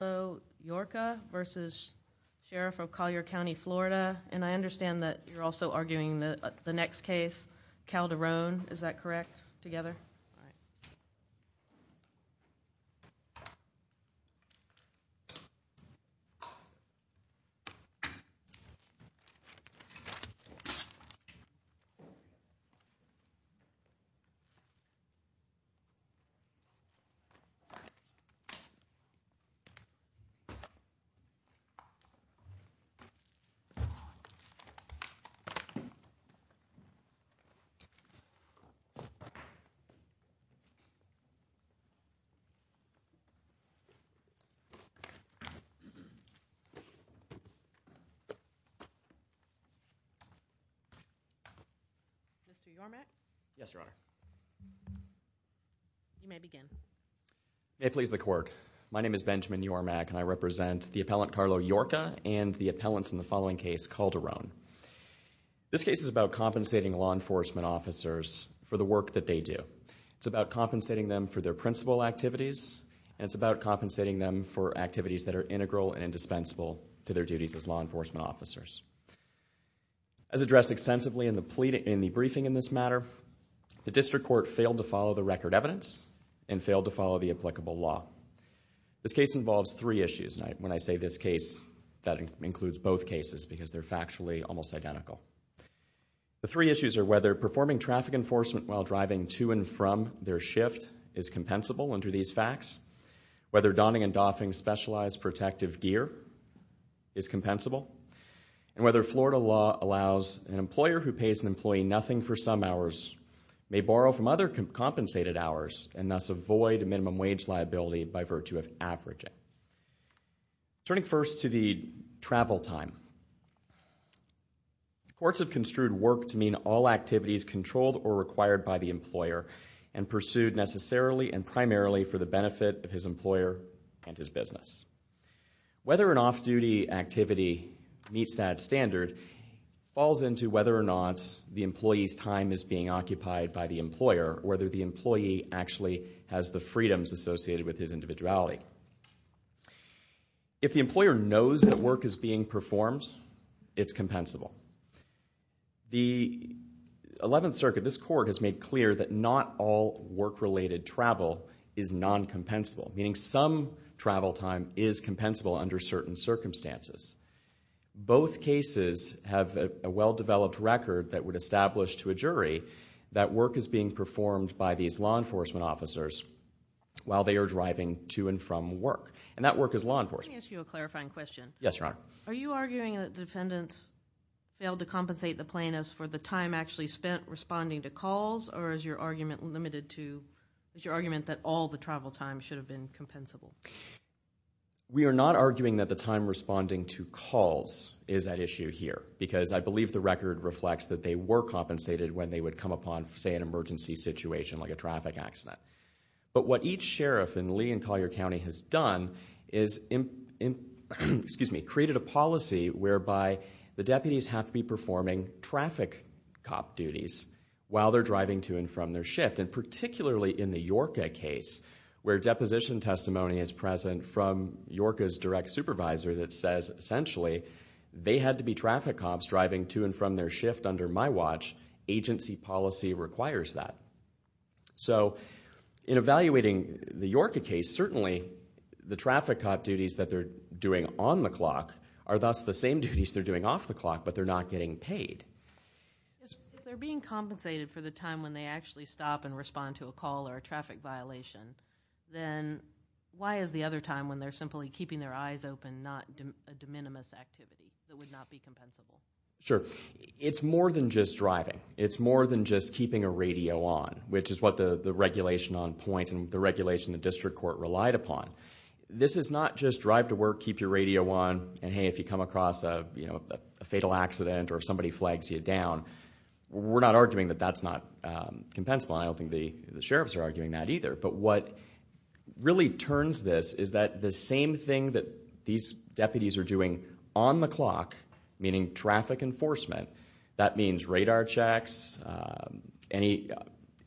Llorca v. Sheriff of Collier County, Florida and I understand that you're also arguing the next case, Calderone, is that correct, together? Mr. Yormack? Yes, Your Honor. You may begin. May it please the court. My name is Benjamin Yormack and I represent the appellant Carlo Llorca and the appellants in the following case, Calderone. This case is about compensating law enforcement officers for the work that they do. It's about compensating them for their principal activities and it's about compensating them for activities that are integral and indispensable to their duties as law enforcement officers. As addressed extensively in the briefing in this matter, the district court failed to This case involves three issues, and when I say this case, that includes both cases because they're factually almost identical. The three issues are whether performing traffic enforcement while driving to and from their shift is compensable under these facts, whether donning and doffing specialized protective gear is compensable, and whether Florida law allows an employer who pays an employee nothing for some hours may borrow from other compensated hours and thus avoid minimum wage liability by virtue of averaging. Turning first to the travel time, courts have construed work to mean all activities controlled or required by the employer and pursued necessarily and primarily for the benefit of his employer and his business. Whether an off-duty activity meets that standard falls into whether or not the employee's time is being occupied by the employer, whether the employee actually has the freedoms associated with his individuality. If the employer knows that work is being performed, it's compensable. The Eleventh Circuit, this court, has made clear that not all work-related travel is non-compensable, meaning some travel time is compensable under certain circumstances. Both cases have a well-developed record that would establish to a jury that work is being from work. And that work is law enforcement. Let me ask you a clarifying question. Yes, Your Honor. Are you arguing that defendants failed to compensate the plaintiffs for the time actually spent responding to calls, or is your argument limited to, is your argument that all the travel time should have been compensable? We are not arguing that the time responding to calls is at issue here, because I believe the record reflects that they were compensated when they would come upon, say, an emergency situation like a traffic accident. But what each sheriff in Lee and Collier County has done is, excuse me, created a policy whereby the deputies have to be performing traffic cop duties while they're driving to and from their shift. And particularly in the Yorka case, where deposition testimony is present from Yorka's direct supervisor that says, essentially, they had to be traffic cops driving to and from their shift under my watch. Agency policy requires that. So, in evaluating the Yorka case, certainly the traffic cop duties that they're doing on the clock are thus the same duties they're doing off the clock, but they're not getting paid. If they're being compensated for the time when they actually stop and respond to a call or a traffic violation, then why is the other time when they're simply keeping their eyes open not a de minimis activity that would not be compensable? Sure. It's more than just driving. It's more than just keeping a radio on, which is what the regulation on point and the regulation the district court relied upon. This is not just drive to work, keep your radio on, and hey, if you come across a fatal accident or if somebody flags you down, we're not arguing that that's not compensable. I don't think the sheriffs are arguing that either. But what really turns this is that the same thing that these deputies are doing on the checks, any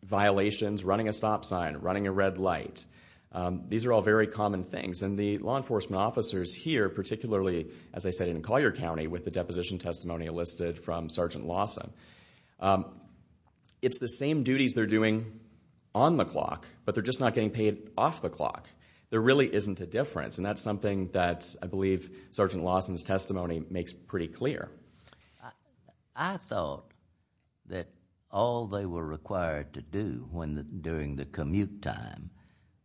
violations, running a stop sign, running a red light, these are all very common things. And the law enforcement officers here, particularly, as I said, in Collier County with the deposition testimony enlisted from Sergeant Lawson, it's the same duties they're doing on the clock, but they're just not getting paid off the clock. There really isn't a difference, and that's something that I believe Sergeant Lawson's testimony makes pretty clear. I thought that all they were required to do during the commute time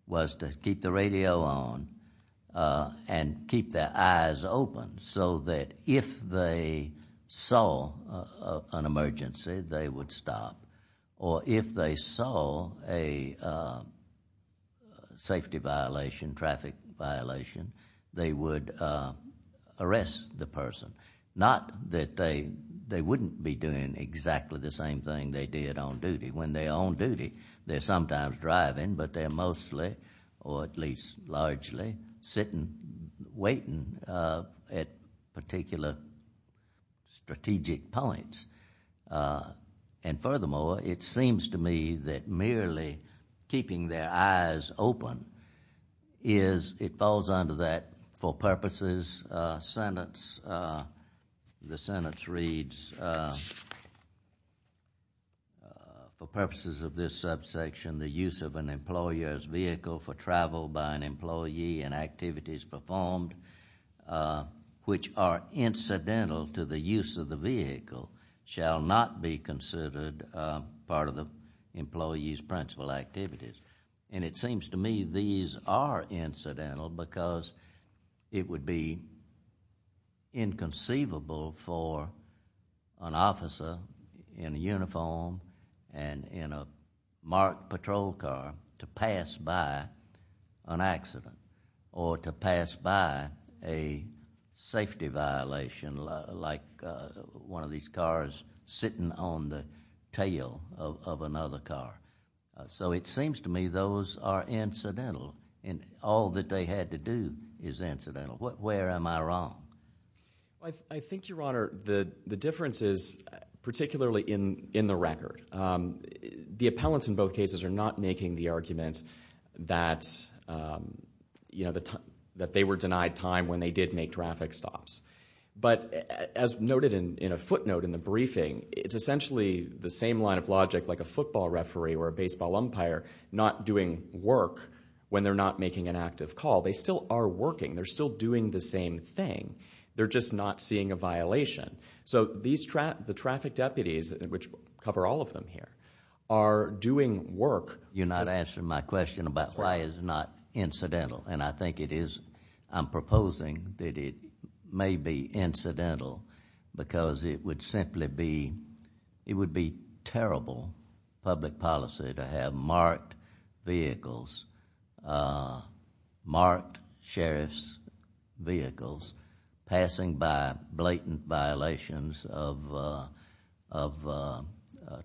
was to keep the radio on and keep their eyes open so that if they saw an emergency, they would stop, or if they saw a safety violation, traffic violation, they would arrest the person. Not that they wouldn't be doing exactly the same thing they did on duty. When they're on duty, they're sometimes driving, but they're mostly, or at least largely, sitting, waiting at particular strategic points. And furthermore, it seems to me that merely keeping their eyes open is, it falls under that for purposes sentence, the sentence reads, for purposes of this subsection, the use of an employer's vehicle for travel by an employee and activities performed which are incidental to the use of the vehicle shall not be considered part of the employee's principal activities. And it seems to me these are incidental because it would be inconceivable for an officer in a uniform and in a marked patrol car to pass by an accident, or to pass by a safety violation like one of these cars sitting on the tail of another car. So it seems to me those are incidental, and all that they had to do is incidental. Where am I wrong? I think, Your Honor, the difference is, particularly in the record, the appellants in both cases are not making the argument that they were denied time when they did make traffic stops. But as noted in a footnote in the briefing, it's essentially the same line of logic like a football referee or a baseball umpire not doing work when they're not making an active call. They still are working. They're still doing the same thing. They're just not seeing a violation. So the traffic deputies, which cover all of them here, are doing work. You're not answering my question about why it's not incidental. And I think it is, I'm proposing that it may be incidental because it would simply be, it would be terrible public policy to have marked vehicles, marked sheriff's vehicles passing by blatant violations of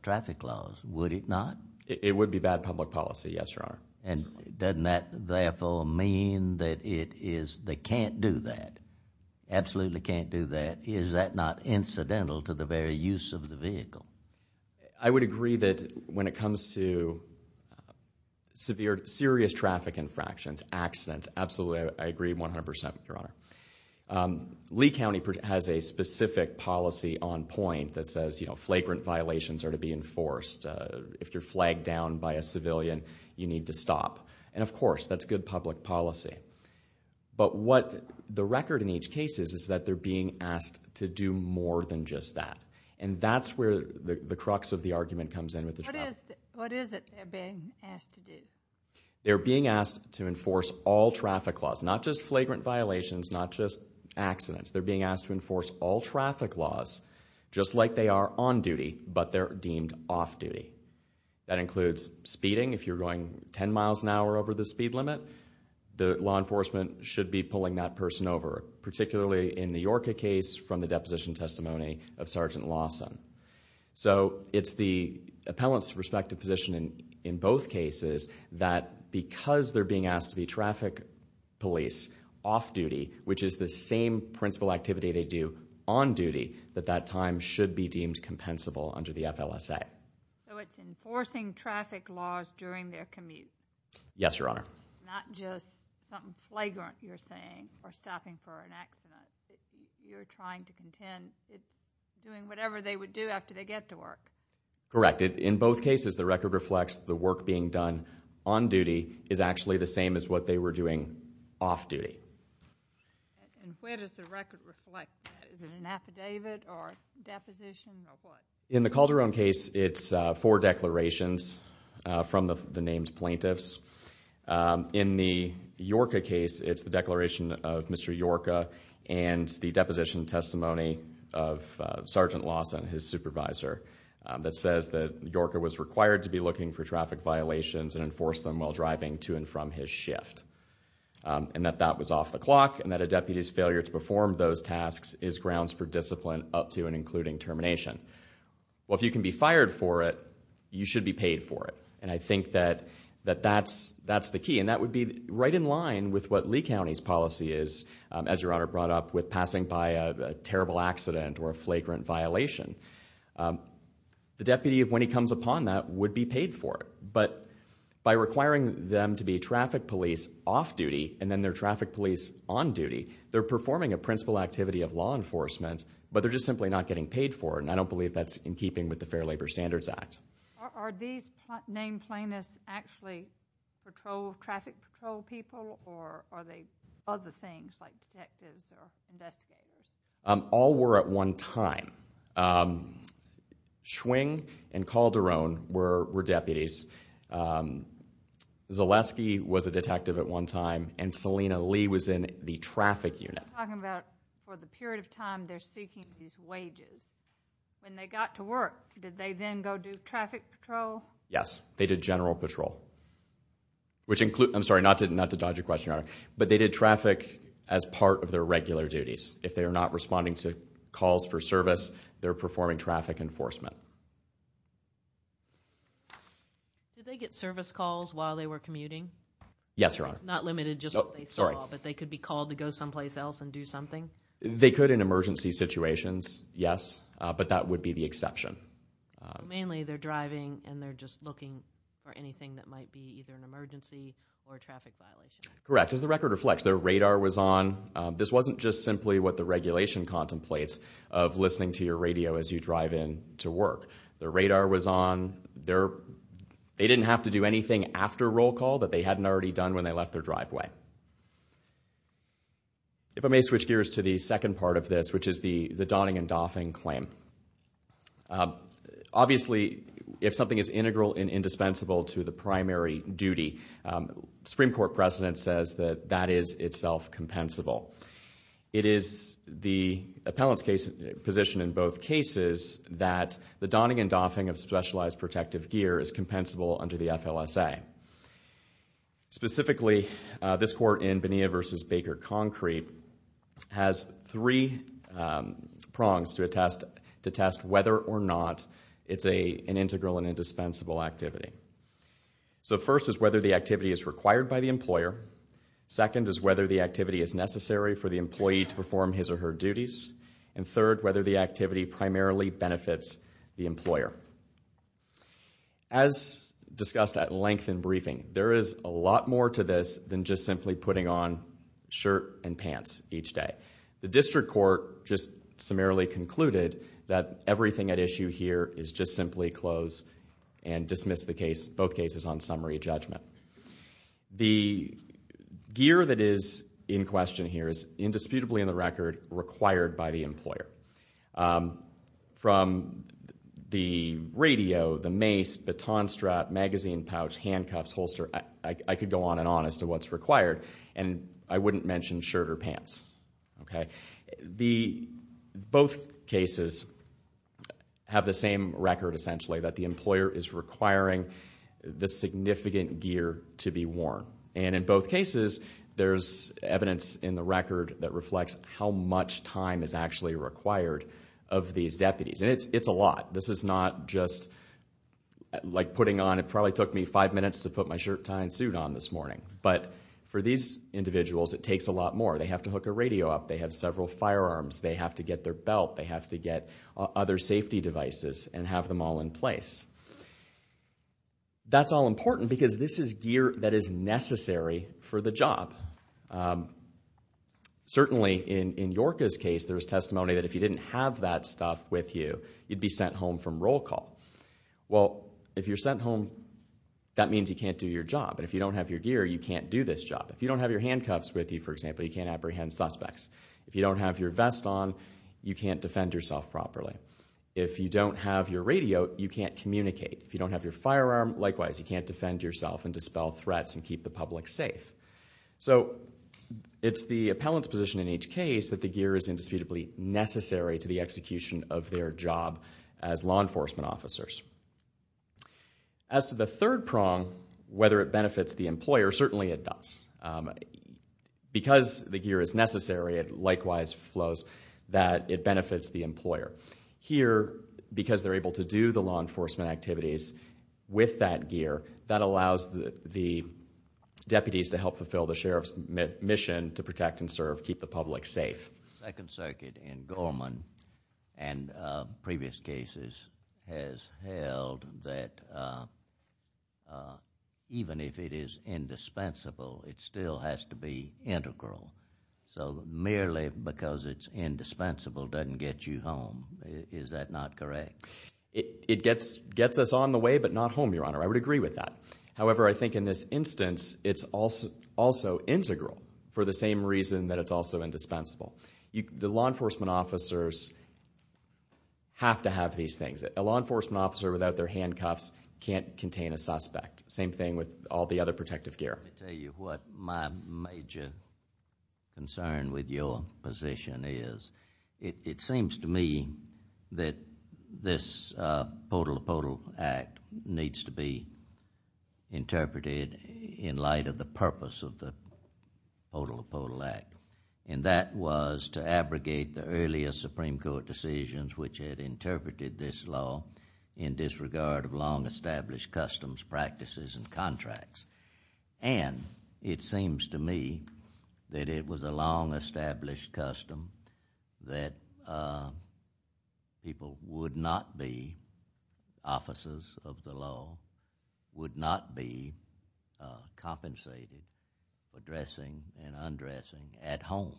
traffic laws, would it not? It would be bad public policy, yes, Your Honor. And doesn't that therefore mean that it is, they can't do that, absolutely can't do that. Is that not incidental to the very use of the vehicle? I would agree that when it comes to severe, serious traffic infractions, accidents, absolutely I agree 100%, Your Honor. Lee County has a specific policy on point that says, you know, flagrant violations are to be enforced. If you're flagged down by a civilian, you need to stop. And of course, that's good public policy. But what the record in each case is, is that they're being asked to do more than just that. And that's where the crux of the argument comes in with the traffic. What is it they're being asked to do? They're being asked to enforce all traffic laws, not just flagrant violations, not just accidents. They're being asked to enforce all traffic laws, just like they are on duty, but they're That includes speeding. If you're going 10 miles an hour over the speed limit, the law enforcement should be pulling that person over, particularly in the Yorker case from the deposition testimony of Sergeant Lawson. So it's the appellant's respective position in both cases that because they're being asked to be traffic police off duty, which is the same principal activity they do on duty, that that time should be deemed compensable under the FLSA. So it's enforcing traffic laws during their commute? Yes, Your Honor. Not just something flagrant you're saying, or stopping for an accident. You're trying to contend it's doing whatever they would do after they get to work. Correct. In both cases, the record reflects the work being done on duty is actually the same as what they were doing off duty. And where does the record reflect that? Is it an affidavit or a deposition or what? In the Calderon case, it's four declarations from the named plaintiffs. In the Yorker case, it's the declaration of Mr. Yorker and the deposition testimony of Sergeant Lawson, his supervisor, that says that Yorker was required to be looking for traffic violations and enforce them while driving to and from his shift, and that that was off the clock, and that a deputy's failure to perform those tasks is grounds for discipline up to and including termination. Well, if you can be fired for it, you should be paid for it. And I think that that's the key. And that would be right in line with what Lee County's policy is, as Your Honor brought up with passing by a terrible accident or a flagrant violation. The deputy, when he comes upon that, would be paid for it. But by requiring them to be traffic police off duty, and then they're traffic police on duty, they're performing a principal activity of law enforcement, but they're just simply not getting paid for it. And I don't believe that's in keeping with the Fair Labor Standards Act. Are these named plaintiffs actually traffic patrol people, or are they other things like detectives or investigators? All were at one time. Schwing and Calderon were deputies. Zaleski was a detective at one time, and Selina Lee was in the traffic unit. You're talking about for the period of time they're seeking these wages. When they got to work, did they then go do traffic patrol? Yes, they did general patrol. Which includes, I'm sorry, not to dodge your question, Your Honor, but they did traffic as part of their regular duties. If they are not responding to calls for service, they're performing traffic enforcement. Did they get service calls while they were commuting? Yes, Your Honor. It's not limited to just what they saw, but they could be called to go someplace else and do something? They could in emergency situations, yes, but that would be the exception. Mainly they're driving and they're just looking for anything that might be either an emergency or a traffic violation. Correct. Does the record reflect their radar was on? This wasn't just simply what the regulation contemplates of listening to your radio as you drive in to work. The radar was on. They didn't have to do anything after roll call that they hadn't already done when they left their driveway. If I may switch gears to the second part of this, which is the donning and doffing claim. Obviously, if something is integral and indispensable to the primary duty, Supreme Court precedent says that that is itself compensable. It is the appellant's position in both cases that the donning and doffing of specialized protective gear is compensable under the FLSA. Specifically, this court in Bonilla v. Baker Concrete has three prongs to test whether or not it's an integral and indispensable activity. So first is whether the activity is required by the employer. Second is whether the activity is necessary for the employee to perform his or her duties. And third, whether the activity primarily benefits the employer. As discussed at length in briefing, there is a lot more to this than just simply putting on shirt and pants each day. The district court just summarily concluded that everything at issue here is just simply close and dismiss both cases on summary judgment. The gear that is in question here is indisputably in the record required by the employer. From the radio, the mace, baton strap, magazine pouch, handcuffs, holster, I could go on and on as to what's required, and I wouldn't mention shirt or pants. Both cases have the same record, essentially, that the employer is requiring the significant gear to be worn. And in both cases, there's evidence in the record that reflects how much time is actually required of these deputies. And it's a lot. This is not just like putting on, it probably took me five minutes to put my shirt, tie, and suit on this morning. But for these individuals, it takes a lot more. They have to hook a radio up. They have several firearms. They have to get their belt. They have to get other safety devices and have them all in place. That's all important because this is gear that is necessary for the job. Certainly, in Yorka's case, there was testimony that if you didn't have that stuff with you, you'd be sent home from roll call. Well, if you're sent home, that means you can't do your job. And if you don't have your gear, you can't do this job. If you don't have your handcuffs with you, for example, you can't apprehend suspects. If you don't have your vest on, you can't defend yourself properly. If you don't have your radio, you can't communicate. If you don't have your firearm, likewise, you can't defend yourself and dispel threats and keep the public safe. So it's the appellant's position in each case that the gear is indisputably necessary to the execution of their job as law enforcement officers. As to the third prong, whether it benefits the employer, certainly it does. Because the gear is necessary, it likewise flows that it benefits the employer. Here, because they're able to do the law enforcement activities with that gear, that allows the deputies to help fulfill the sheriff's mission to protect and serve, keep the public safe. The Second Circuit in Gorman and previous cases has held that even if it is indispensable, it still has to be integral. So merely because it's indispensable doesn't get you home. Is that not correct? It gets us on the way, but not home, Your Honor. I would agree with that. However, I think in this instance, it's also integral for the same reason that it's also indispensable. The law enforcement officers have to have these things. A law enforcement officer without their handcuffs can't contain a suspect. Same thing with all the other protective gear. Let me tell you what my major concern with your position is. It seems to me that this POTL Act needs to be interpreted in light of the purpose of the POTL Act, and that was to abrogate the earlier Supreme Court decisions which had interpreted this law in disregard of long-established customs, practices, and contracts. And it seems to me that it was a long-established custom that people would not be officers of the law, would not be compensated for dressing and undressing at home.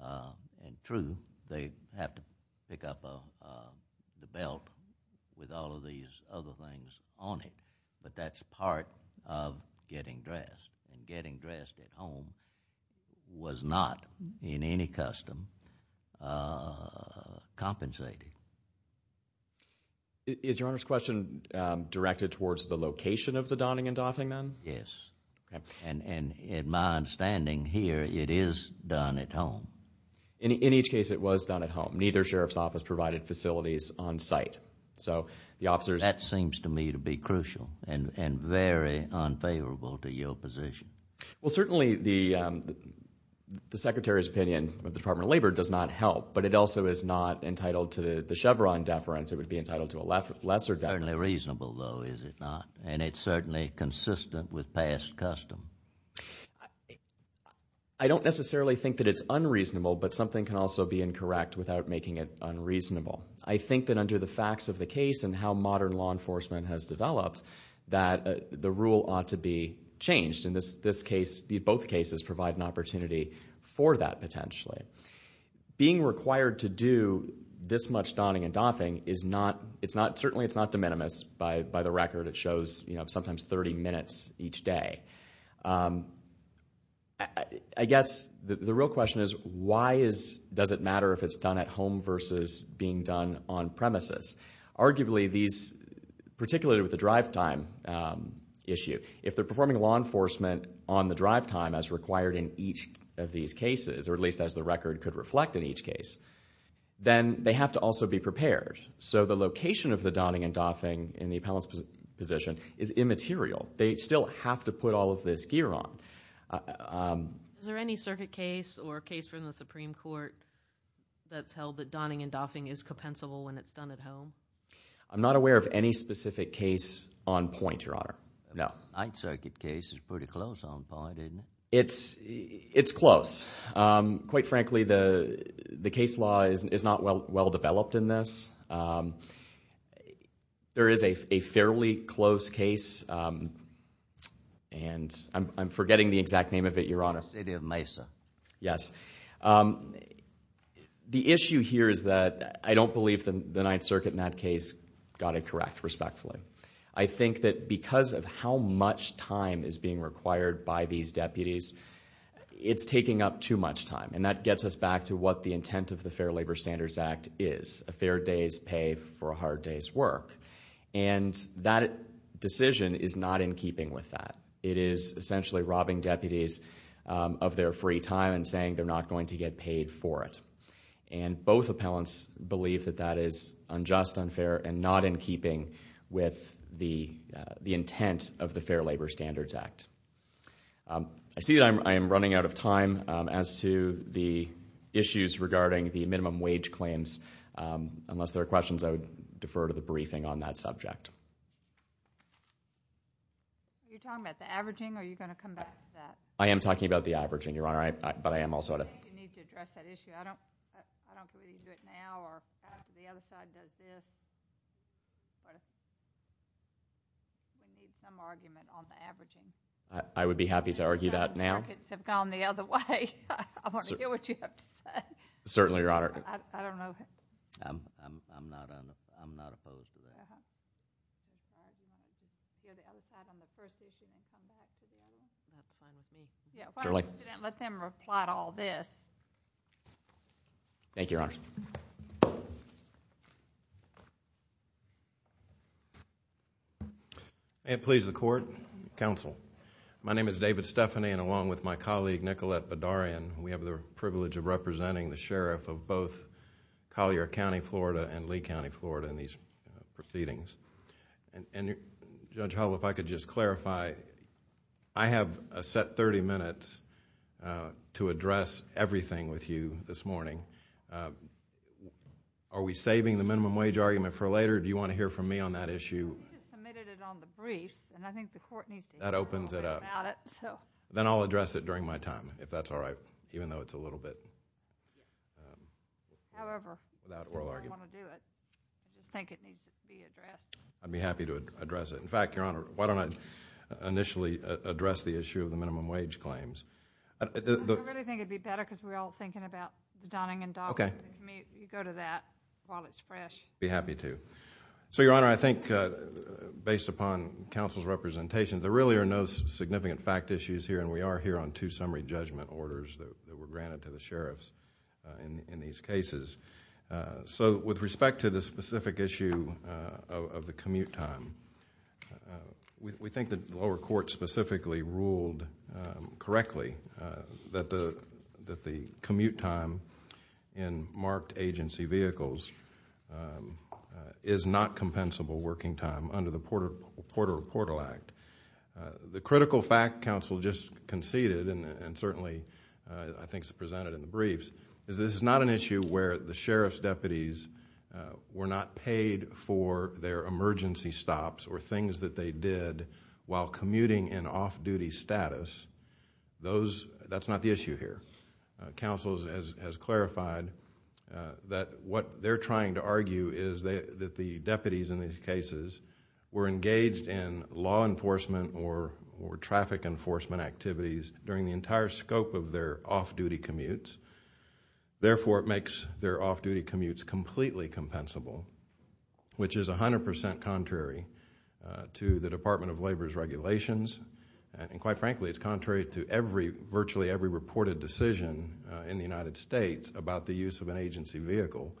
And true, they have to pick up the belt with all of these other things on it, but that's part of getting dressed. And getting dressed at home was not, in any custom, compensated. Is Your Honor's question directed towards the location of the donning and doffing then? Yes. And in my understanding here, it is done at home. In each case, it was done at home. Neither sheriff's office provided facilities on site. That seems to me to be crucial and very unfavorable to your position. Well, certainly the Secretary's opinion of the Department of Labor does not help, but it also is not entitled to the Chevron deference. It would be entitled to a lesser deference. It's certainly reasonable, though, is it not? And it's certainly consistent with past custom. I don't necessarily think that it's unreasonable, but something can also be incorrect without making it unreasonable. I think that under the facts of the case and how modern law enforcement has developed, that the rule ought to be changed. And both cases provide an opportunity for that, potentially. Being required to do this much donning and doffing, certainly it's not de minimis by the record. It shows sometimes 30 minutes each day. I guess the real question is, why does it matter if it's done at home versus being done on premises? Arguably, particularly with the drive time issue, if they're performing law enforcement on the drive time as required in each of these cases, or at least as the record could reflect in each case, then they have to also be prepared. So the location of the donning and doffing in the appellant's position is immaterial. They still have to put all of this gear on. Is there any circuit case or case from the Supreme Court that's held that donning and doffing is compensable when it's done at home? I'm not aware of any specific case on point, Your Honor. My circuit case is pretty close on point, isn't it? It's close. Quite frankly, the case law is not well developed in this. There is a fairly close case. I'm forgetting the exact name of it, Your Honor. The City of Mesa. Yes. The issue here is that I don't believe the Ninth Circuit in that case got it correct, respectfully. I think that because of how much time is being required by these deputies, it's taking up too much time, and that gets us back to what the intent of the Fair Labor Standards Act is, a fair day's pay for a hard day's work. That decision is not in keeping with that. It is essentially robbing deputies of their free time and saying they're not going to get paid for it. Both appellants believe that that is unjust, unfair, and not in keeping with the intent of the Fair Labor Standards Act. I see that I am running out of time as to the issues regarding the minimum wage claims. Unless there are questions, I would defer to the briefing on that subject. Are you talking about the averaging, or are you going to come back to that? I am talking about the averaging, Your Honor, but I am also going to... I think you need to address that issue. I don't believe you can do it now, or the other side does this. You need some argument on the averaging. I would be happy to argue that now. The circuits have gone the other way. I want to hear what you have to say. Certainly, Your Honor. I don't know. I'm not opposed to that. Uh-huh. You're the other side on the first issue, and you're going to come back to the other? That's fine with me. Why don't you let them reply to all this? Thank you, Your Honor. May it please the court, counsel. My name is David Stephanie, and along with my colleague, Nicolette Bedarian, we have the privilege of representing the sheriff of both Collier County, Florida, and Lee County, Florida in these proceedings. Judge Hull, if I could just clarify. I have a set thirty minutes to address everything with you this morning. Are we saving the minimum wage argument for later, or do you want to hear from me on that issue? I just submitted it on the briefs, and I think the court needs to hear a little bit about it. That opens it up. Then I'll address it during my time, if that's all right, even though it's a little bit without oral argument. However, I don't want to do it. I just think it needs to be addressed. I'd be happy to address it. In fact, Your Honor, why don't I initially address the issue of the minimum wage claims? I really think it would be better because we're all thinking about the Donning and Daul. Okay. You go to that while it's fresh. I'd be happy to. So, Your Honor, I think based upon counsel's representation, there really are no significant fact issues here, and we are here on two summary judgment orders that were granted to the sheriffs in these cases. With respect to the specific issue of the commute time, we think the lower court specifically ruled correctly that the commute time in marked agency vehicles is not compensable working time under the Porter Reportal Act. The critical fact counsel just conceded, and certainly I think is presented in the briefs, is this is not an issue where the sheriff's deputies were not paid for their emergency stops or things that they did while commuting in off-duty status. That's not the issue here. Counsel has clarified that what they're trying to argue is that the deputies in these cases were engaged in law enforcement or traffic enforcement activities during the entire scope of their off-duty commutes. Therefore, it makes their off-duty commutes completely compensable, which is 100% contrary to the Department of Labor's regulations, and quite frankly, it's contrary to virtually every reported decision in the United States about the use of an agency vehicle,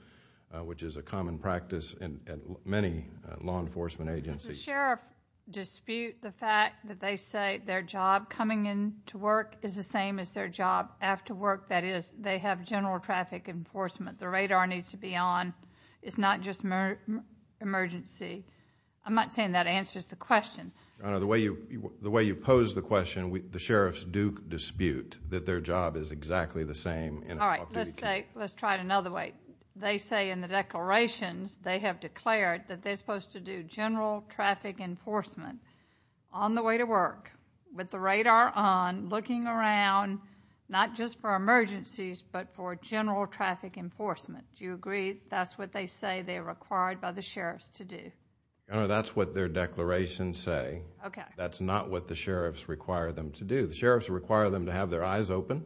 which is a common practice in many law enforcement agencies. Does the sheriff dispute the fact that they say their job coming into work is the same as their job after work? That is, they have general traffic enforcement. The radar needs to be on. It's not just emergency. I'm not saying that answers the question. Your Honor, the way you pose the question, the sheriffs do dispute that their job is exactly the same in an off-duty commute. All right, let's try it another way. They say in the declarations they have declared that they're supposed to do general traffic enforcement on the way to work with the radar on, looking around, not just for emergencies but for general traffic enforcement. Do you agree that's what they say they're required by the sheriffs to do? Your Honor, that's what their declarations say. That's not what the sheriffs require them to do. The sheriffs require them to have their eyes open,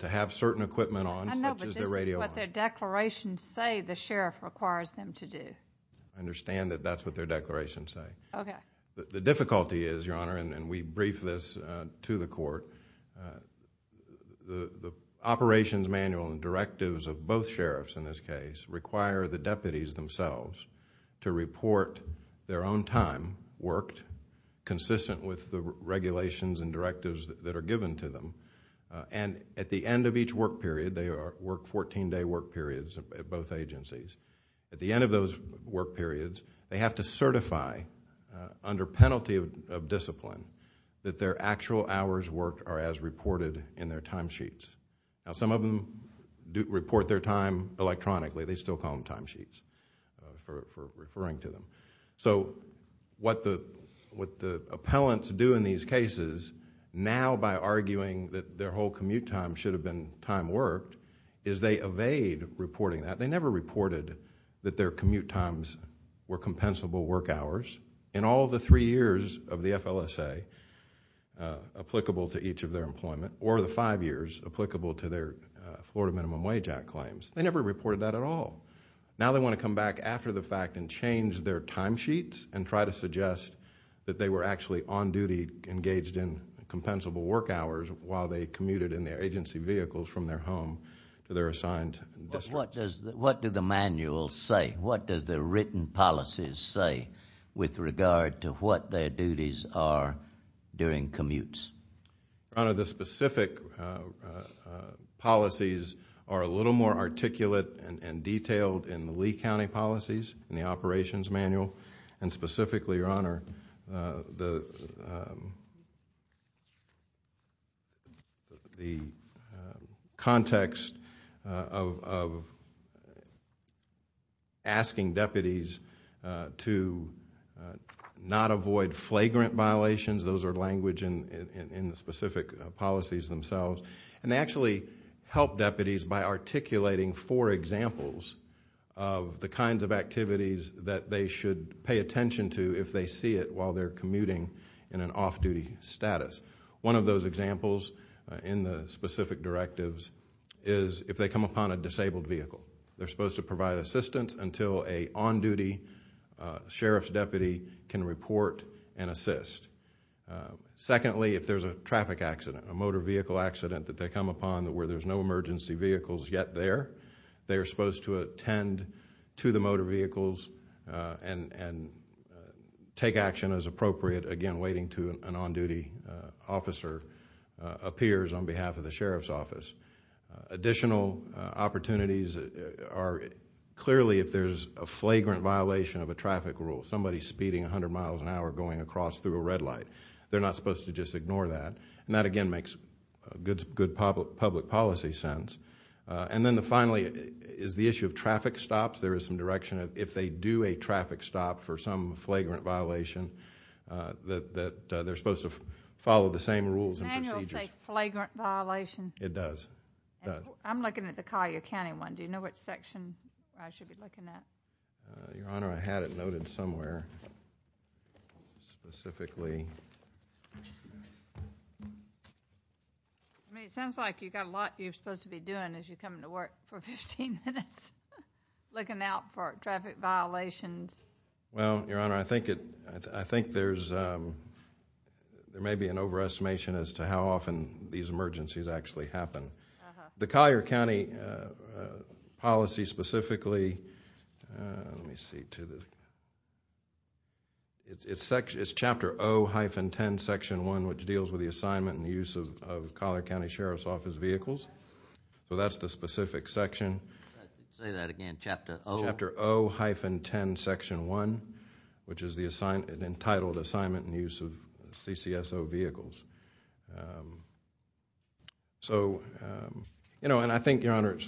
to have certain equipment on, such as their radio on. I know, but this is what their declarations say the sheriff requires them to do. I understand that that's what their declarations say. The difficulty is, Your Honor, and we brief this to the court, the operations manual and directives of both sheriffs in this case require the deputies themselves to report their own time worked, consistent with the regulations and directives that are given to them, and at the end of each work period, they work 14-day work periods at both agencies. At the end of those work periods, they have to certify, under penalty of discipline, that their actual hours worked are as reported in their timesheets. Some of them report their time electronically. They still call them timesheets for referring to them. What the appellants do in these cases, now by arguing that their whole commute time should have been time worked, is they evade reporting that. They never reported that their commute times were compensable work hours. In all the three years of the FLSA, applicable to each of their employment, or the five years applicable to their Florida Minimum Wage Act claims, they never reported that at all. Now they want to come back after the fact and change their timesheets and try to suggest that they were actually on duty, engaged in compensable work hours while they commuted in their agency vehicles from their home to their assigned district. What do the manuals say? What does the written policies say with regard to what their duties are during commutes? Your Honor, the specific policies are a little more articulate and detailed in the Lee County policies in the operations manual, and specifically, Your Honor, the context of asking deputies to not avoid flagrant violations. Those are language in the specific policies themselves. They actually help deputies by articulating four examples of the kinds of activities that they should pay attention to if they see it while they're commuting in an off-duty status. One of those examples in the specific directives is if they come upon a disabled vehicle. They're supposed to provide assistance until an on-duty sheriff's deputy can report and assist. Secondly, if there's a traffic accident, a motor vehicle accident that they come upon where there's no emergency vehicles yet there, they're supposed to attend to the motor vehicles and take action as appropriate, again, waiting until an on-duty officer appears on behalf of the sheriff's office. Additional opportunities are clearly if there's a flagrant violation of a traffic rule. Somebody's speeding 100 miles an hour going across through a red light. They're not supposed to just ignore that. That, again, makes good public policy sense. And then finally is the issue of traffic stops. There is some direction if they do a traffic stop for some flagrant violation that they're supposed to follow the same rules and procedures. Does the manual say flagrant violation? It does. I'm looking at the Collier County one. Do you know which section I should be looking at? Your Honor, I had it noted somewhere specifically. I mean, it sounds like you've got a lot you're supposed to be doing as you come into work for 15 minutes looking out for traffic violations. Well, Your Honor, I think there may be an overestimation as to how often these emergencies actually happen. The Collier County policy specifically, let me see. It's Chapter O-10, Section 1, which deals with the assignment and use of Collier County Sheriff's Office vehicles. So that's the specific section. Say that again, Chapter O? Chapter O-10, Section 1, which is the entitled assignment and use of CCSO vehicles. And I think, Your Honor,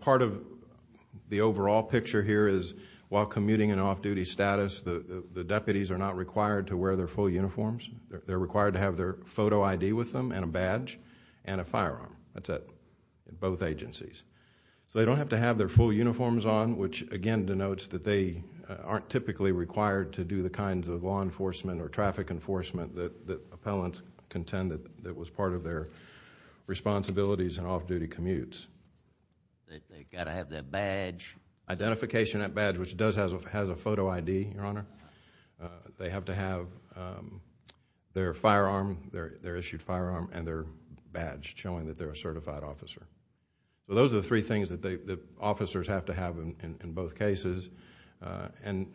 part of the overall picture here is while commuting in off-duty status, the deputies are not required to wear their full uniforms. They're required to have their photo ID with them and a badge and a firearm. That's at both agencies. So they don't have to have their full uniforms on, which again denotes that they aren't typically required to do the kinds of law enforcement or traffic enforcement that appellants contend that was part of their responsibilities in off-duty commutes. They've got to have their badge. Identification and badge, which does have a photo ID, Your Honor. They have to have their firearm, their issued firearm, and their badge showing that they're a certified officer. Those are the three things that the officers have to have in both cases. And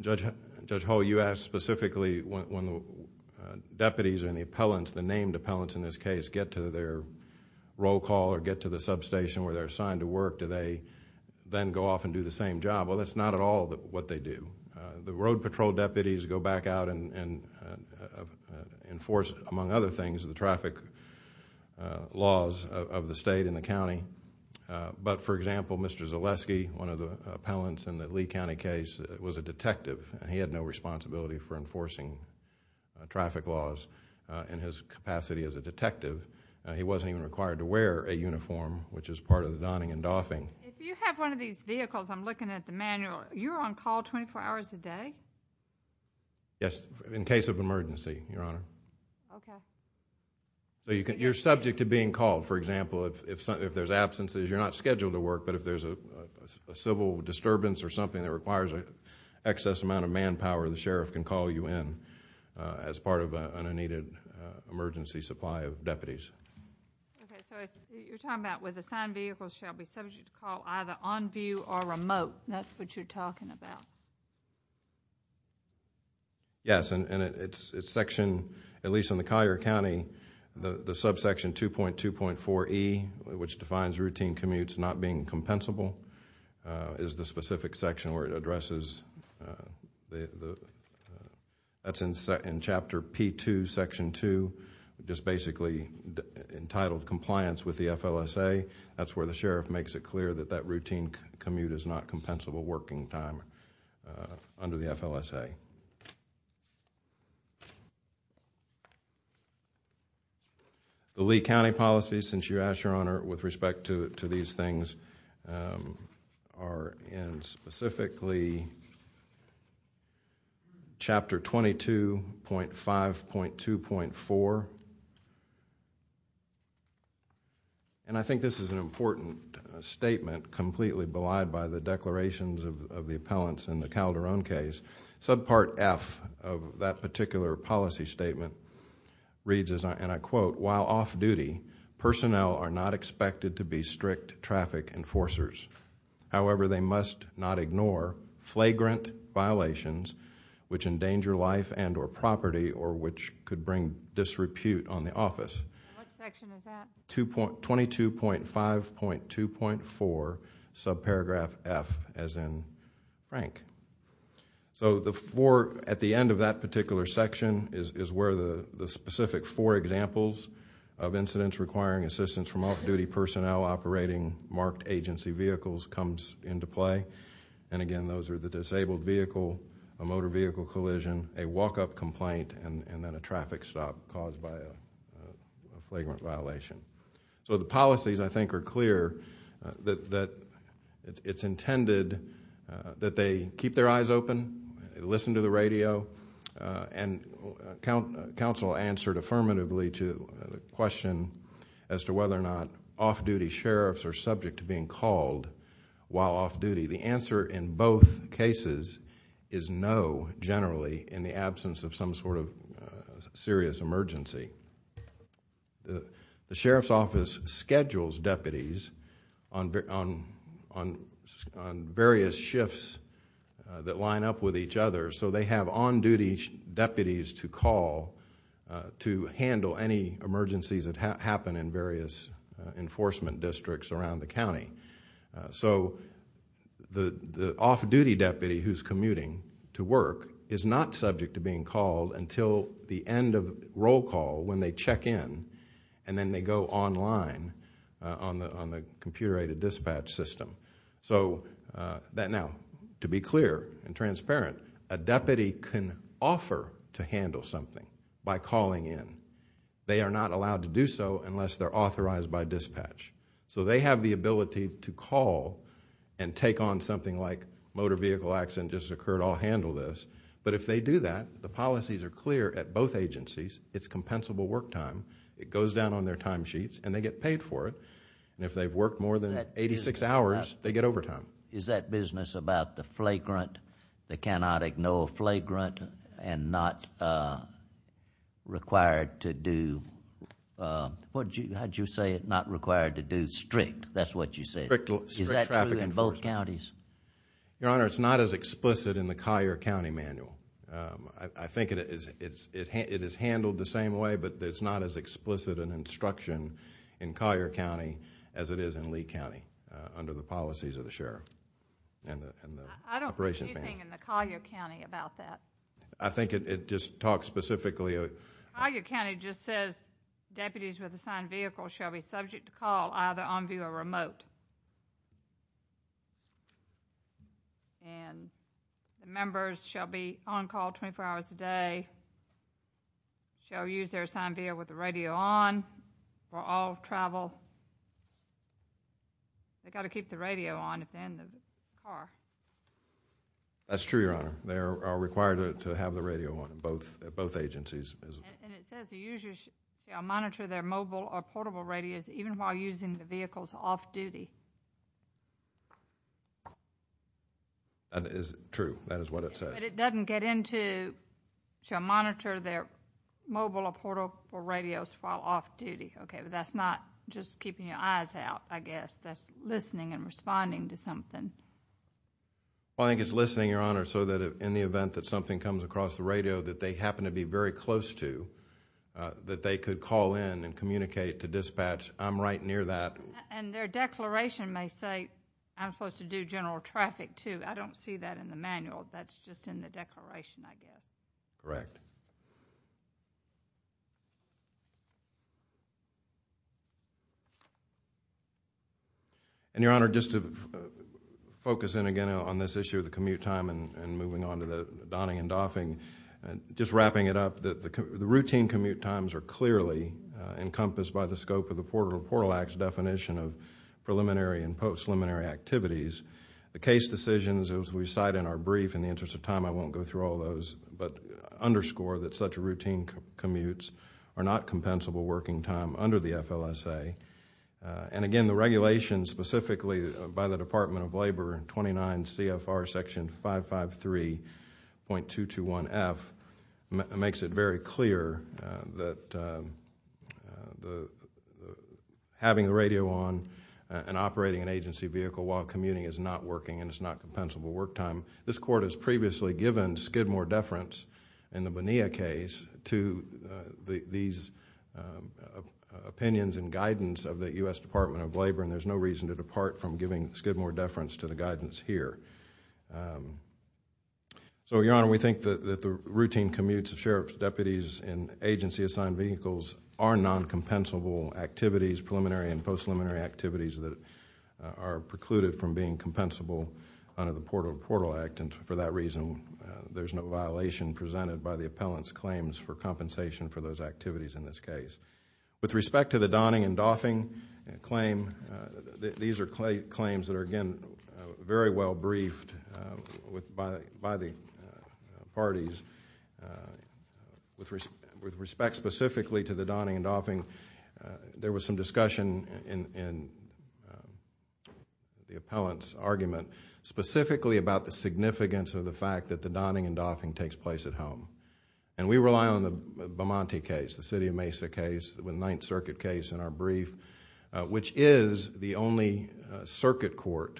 Judge Hull, you asked specifically when the deputies and the appellants, the named appellants in this case, get to their roll call or get to the substation where they're assigned to work, do they then go off and do the same job? Well, that's not at all what they do. The road patrol deputies go back out and enforce, among other things, the traffic laws of the state and the county. But, for example, Mr. Zaleski, one of the appellants in the Lee County case, was a detective, and he had no responsibility for enforcing traffic laws in his capacity as a detective. He wasn't even required to wear a uniform, which is part of the donning and doffing. If you have one of these vehicles, I'm looking at the manual, you're on call 24 hours a day? Yes, in case of emergency, Your Honor. Okay. You're subject to being called, for example, if there's absences. You're not scheduled to work, but if there's a civil disturbance or something that requires an excess amount of manpower, the sheriff can call you in as part of an unneeded emergency supply of deputies. Okay. So you're talking about where the assigned vehicle shall be subject to call, either on view or remote. That's what you're talking about. Yes, and its section, at least in the Collier County, the subsection 2.2.4E, which defines routine commutes not being compensable, is the specific section where it addresses. That's in Chapter P.2, Section 2, just basically entitled Compliance with the FLSA. That's where the sheriff makes it clear that that routine commute is not compensable working time under the FLSA. Okay. The Lee County policies, since you asked, Your Honor, with respect to these things are in specifically Chapter 22.5.2.4. I think this is an important statement, completely belied by the declarations of the appellants in the Calderon case. Subpart F of that particular policy statement reads, and I quote, While off-duty, personnel are not expected to be strict traffic enforcers. However, they must not ignore flagrant violations which endanger life and or property or which could bring disrepute on the office. What section is that? 22.5.2.4, subparagraph F, as in Frank. At the end of that particular section is where the specific four examples of incidents requiring assistance from off-duty personnel operating marked agency vehicles comes into play. Again, those are the disabled vehicle, a motor vehicle collision, a walk-up complaint, and then a traffic stop caused by a flagrant violation. The policies, I think, are clear that it's intended that they keep their eyes open, listen to the radio, and counsel answered affirmatively to the question as to whether or not off-duty sheriffs are subject to being called while off-duty. The answer in both cases is no, generally, in the absence of some sort of serious emergency. The sheriff's office schedules deputies on various shifts that line up with each other so they have on-duty deputies to call to handle any emergencies that happen The off-duty deputy who's commuting to work is not subject to being called until the end of roll call when they check in, and then they go online on the computer-aided dispatch system. To be clear and transparent, a deputy can offer to handle something by calling in. They are not allowed to do so unless they're authorized by dispatch. So they have the ability to call and take on something like, motor vehicle accident just occurred, I'll handle this. But if they do that, the policies are clear at both agencies. It's compensable work time. It goes down on their time sheets, and they get paid for it. And if they've worked more than 86 hours, they get overtime. Is that business about the flagrant, they cannot ignore flagrant, and not required to do strict? That's what you said. Strict traffic enforcement. Is that true in both counties? Your Honor, it's not as explicit in the Collier County Manual. I think it is handled the same way, but it's not as explicit an instruction in Collier County as it is in Lee County under the policies of the sheriff and the operations manager. There's nothing in the Collier County about that. I think it just talks specifically. Collier County just says deputies with assigned vehicles shall be subject to call either on view or remote. And the members shall be on call 24 hours a day, shall use their assigned vehicle with the radio on for all travel. They've got to keep the radio on if they're in the car. That's true, Your Honor. They are required to have the radio on in both agencies. And it says the users shall monitor their mobile or portable radios even while using the vehicles off-duty. That is true. That is what it says. But it doesn't get into, shall monitor their mobile or portable radios while off-duty. Okay, but that's not just keeping your eyes out, I guess. That's listening and responding to something. Well, I think it's listening, Your Honor, so that in the event that something comes across the radio that they happen to be very close to, that they could call in and communicate to dispatch, I'm right near that. And their declaration may say, I'm supposed to do general traffic, too. I don't see that in the manual. That's just in the declaration, I guess. Correct. And, Your Honor, just to focus in again on this issue of the commute time and moving on to the donning and doffing, just wrapping it up, the routine commute times are clearly encompassed by the scope of the Portable Portal Act's definition of preliminary and post-preliminary activities. The case decisions, as we cite in our brief, in the interest of time, I won't go through all those, but underscore that such routine commutes are not compensable working time under the FLSA. And again, the regulation specifically by the Department of Labor, 29 CFR section 553.221F, makes it very clear that having the radio on and operating an agency vehicle while commuting is not working and it's not compensable work time. This court has previously given Skidmore deference in the Bonilla case to these opinions and guidance of the U.S. Department of Labor and there's no reason to depart from giving Skidmore deference to the guidance here. So, Your Honor, we think that the routine commutes of sheriff's deputies in agency assigned vehicles are non-compensable activities, preliminary and post-preliminary activities, that are precluded from being compensable under the Portal to Portal Act and for that reason there's no violation presented by the appellant's claims for compensation for those activities in this case. With respect to the Donning and Doffing claim, these are claims that are, again, very well briefed by the parties. With respect specifically to the Donning and Doffing, there was some discussion in the appellant's argument specifically about the significance of the fact that the Donning and Doffing takes place at home and we rely on the Beaumont case, the City of Mesa case, the Ninth Circuit case in our brief, which is the only circuit court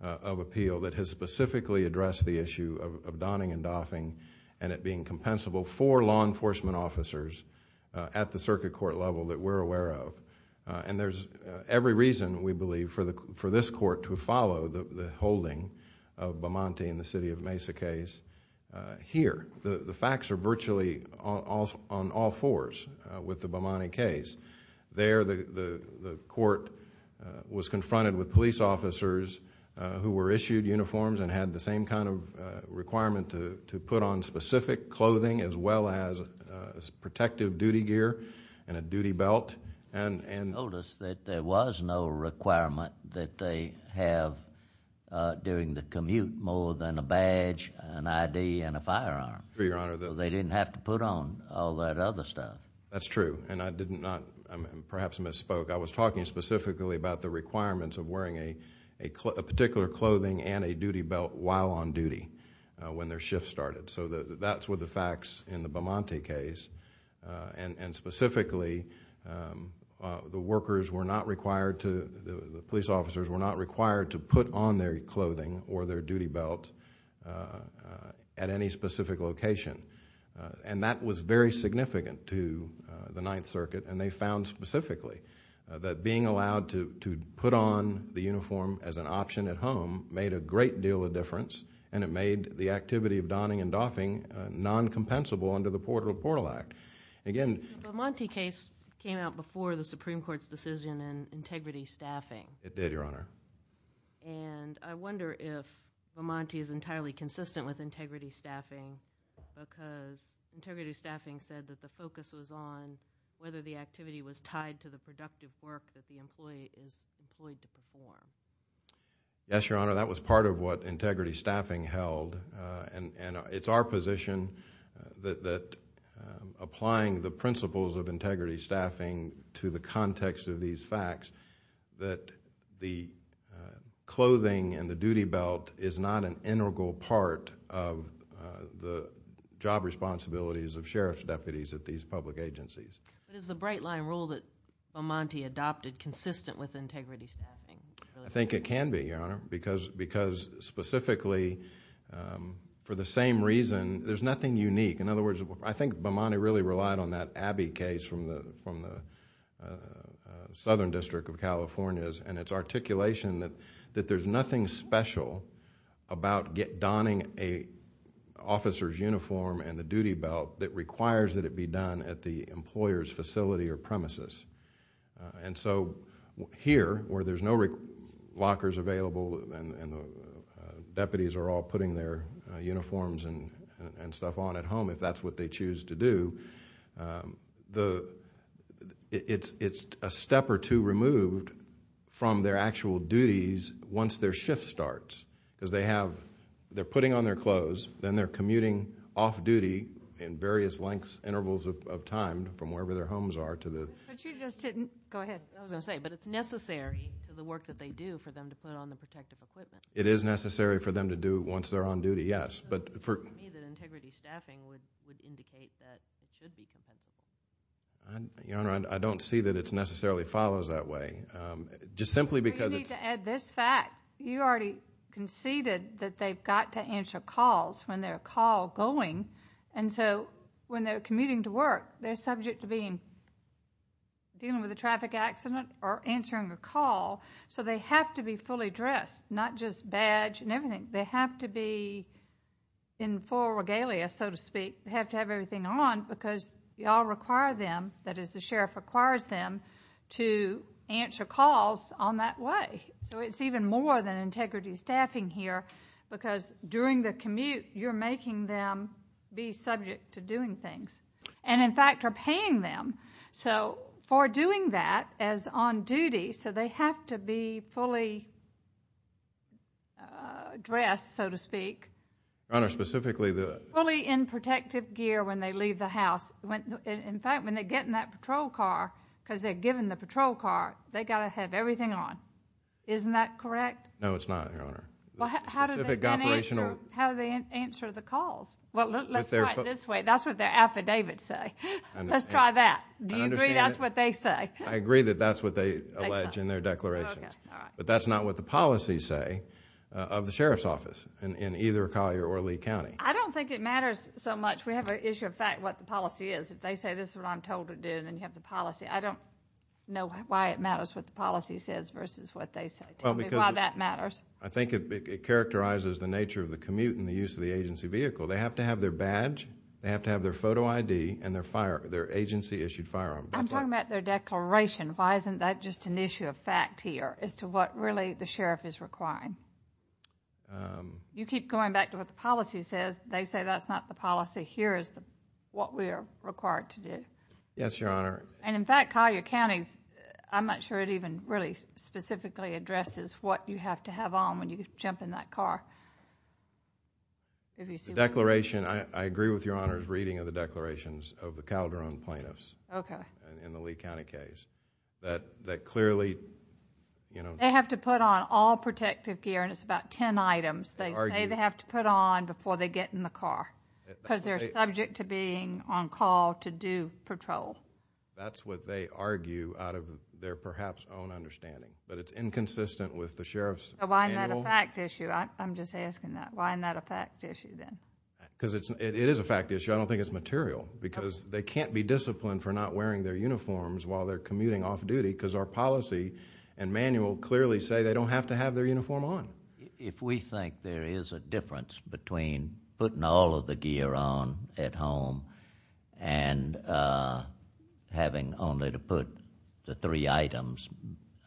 of appeal that has specifically addressed the issue of Donning and Doffing and it being compensable for law enforcement officers at the circuit court level that we're aware of. There's every reason, we believe, for this court to follow the holding of Beaumont and the City of Mesa case here. The facts are virtually on all fours with the Beaumont case. There the court was confronted with police officers who were issued uniforms and had the same kind of requirement to put on specific clothing as well as protective duty gear and a duty belt. You told us that there was no requirement that they have during the commute more than a badge, an ID, and a firearm. True, Your Honor. So they didn't have to put on all that other stuff. That's true, and I did not perhaps misspoke. I was talking specifically about the requirements of wearing a particular clothing and a duty belt while on duty when their shift started. That's what the facts in the Beaumont case, and specifically the police officers were not required to put on their clothing or their duty belt at any specific location. That was very significant to the Ninth Circuit, and they found specifically that being allowed to put on the uniform as an option at home made a great deal of difference and it made the activity of donning and doffing non-compensable under the Portable Portal Act. The Beaumont case came out before the Supreme Court's decision in integrity staffing. It did, Your Honor. And I wonder if Beaumont is entirely consistent with integrity staffing because integrity staffing said that the focus was on whether the activity was tied to the productive work that the employee is employed to perform. Yes, Your Honor, that was part of what integrity staffing held, and it's our position that applying the principles of integrity staffing to the context of these facts that the clothing and the duty belt is not an integral part of the job responsibilities of sheriff's deputies at these public agencies. But is the bright-line rule that Beaumont adopted consistent with integrity staffing? I think it can be, Your Honor, because specifically for the same reason, there's nothing unique. In other words, I think Beaumont really relied on that Abbey case from the Southern District of California, and its articulation that there's nothing special about donning an officer's uniform and the duty belt that requires that it be done at the employer's facility or premises. And so here, where there's no lockers available and the deputies are all putting their uniforms and stuff on at home, if that's what they choose to do, it's a step or two removed from their actual duties once their shift starts because they're putting on their clothes, then they're commuting off-duty in various lengths, intervals of time from wherever their homes are to the... But you just didn't... Go ahead. I was going to say, but it's necessary for the work that they do for them to put on the protective equipment. It is necessary for them to do once they're on duty, yes. But for me, the integrity staffing would indicate that it should be compensated. Your Honor, I don't see that it necessarily follows that way. Just simply because it's... You need to add this fact. You already conceded that they've got to answer calls when they're a call going, and so when they're commuting to work, they're subject to being... dealing with a traffic accident or answering a call, so they have to be fully dressed, not just badge and everything. They have to be in full regalia, so to speak. They have to have everything on because y'all require them, that is, the sheriff requires them, to answer calls on that way. So it's even more than integrity staffing here because during the commute, you're making them be subject to doing things. And in fact, you're paying them. So for doing that as on duty, so they have to be fully dressed, so to speak. Your Honor, specifically the... Fully in protective gear when they leave the house. In fact, when they get in that patrol car, because they're given the patrol car, they've got to have everything on. Isn't that correct? No, it's not, Your Honor. Well, how do they answer the calls? Well, let's try it this way. That's what their affidavits say. Let's try that. Do you agree that's what they say? I agree that that's what they allege in their declarations. But that's not what the policies say of the sheriff's office in either Collier or Lee County. I don't think it matters so much. We have an issue of fact, what the policy is. If they say this is what I'm told to do, then you have the policy. I don't know why it matters what the policy says versus what they say. Tell me why that matters. I think it characterizes the nature of the commute and the use of the agency vehicle. They have to have their badge, they have to have their photo ID, and their agency issued firearm. I'm talking about their declaration. Why isn't that just an issue of fact here as to what really the sheriff is requiring? You keep going back to what the policy says. They say that's not the policy. Here is what we are required to do. Yes, Your Honor. And in fact, Collier County, I'm not sure it even really specifically addresses what you have to have on when you jump in that car. The declaration, I agree with Your Honor's reading of the declarations of the Calderon plaintiffs in the Lee County case. That clearly, you know... They have to put on all protective gear and it's about ten items. They say they have to put on before they get in the car because they're subject to being on call to do patrol. That's what they argue out of their perhaps own understanding, but it's inconsistent with the sheriff's manual. It's a fact issue. I'm just asking that. Why isn't that a fact issue then? Because it is a fact issue. I don't think it's material because they can't be disciplined for not wearing their uniforms while they're commuting off-duty because our policy and manual clearly say they don't have to have their uniform on. If we think there is a difference between putting all of the gear on at home and having only to put the three items,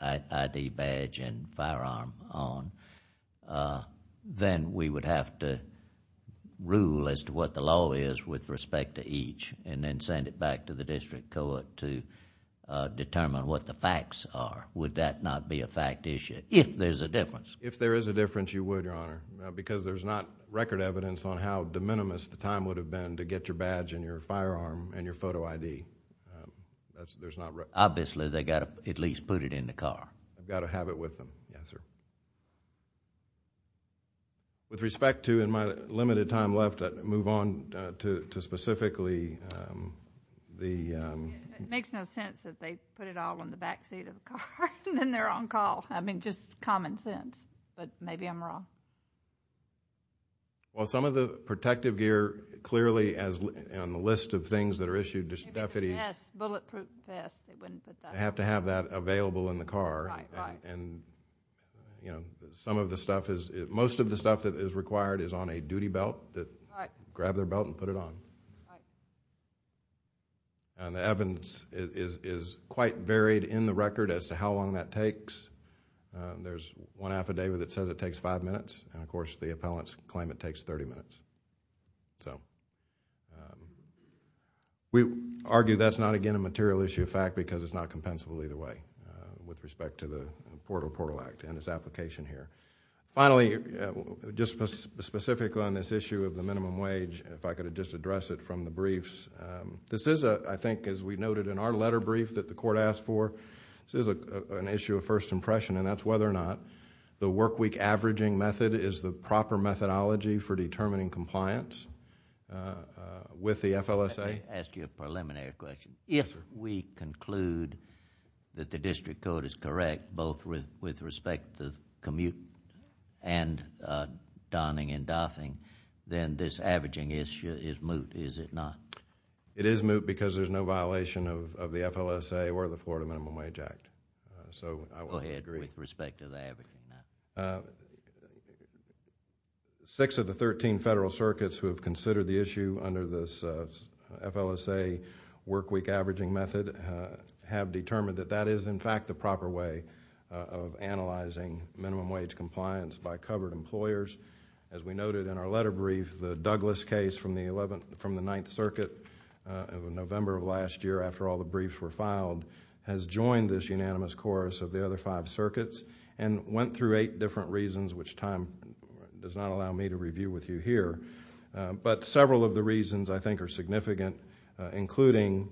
ID badge and firearm on, then we would have to rule as to what the law is with respect to each and then send it back to the district court to determine what the facts are. Would that not be a fact issue if there's a difference? If there is a difference, you would, Your Honor, because there's not record evidence on how de minimis the time would have been to get your badge and your firearm and your photo ID. Obviously, they've got to at least put it in the car. They've got to have it with them. Yes, sir. With respect to my limited time left, I'd move on to specifically the... It makes no sense that they put it all in the backseat of the car and then they're on call. I mean, just common sense. But maybe I'm wrong. Well, some of the protective gear clearly on the list of things that are issued to deputies... Maybe the vest, bulletproof vest. They wouldn't put that on. They have to have that available in the car. Right, right. And some of the stuff is... Most of the stuff that is required is on a duty belt. Grab their belt and put it on. Right. And the evidence is quite varied in the record as to how long that takes. There's one affidavit that says it takes five minutes, and of course the appellants claim it takes 30 minutes. So... We argue that's not, again, a material issue of fact because it's not compensable either way with respect to the Port of Portal Act and its application here. Finally, just specifically on this issue of the minimum wage, if I could just address it from the briefs. This is, I think, as we noted in our letter brief that the court asked for, this is an issue of first impression, and that's whether or not the workweek averaging method is the proper methodology for determining compliance with the FLSA. Can I ask you a preliminary question? Yes, sir. If we conclude that the district code is correct, both with respect to commute and donning and doffing, then this averaging issue is moot, is it not? It is moot because there's no violation of the FLSA or the Florida Minimum Wage Act. So I would agree. Go ahead with respect to the averaging. Six of the 13 federal circuits who have considered the issue under this FLSA workweek averaging method have determined that that is, in fact, the proper way of analyzing minimum wage compliance by covered employers. As we noted in our letter brief, the Douglas case from the 9th Circuit in November of last year, after all the briefs were filed, has joined this unanimous chorus of the other five circuits and went through eight different reasons which time does not allow me to review with you here. But several of the reasons I think are significant, including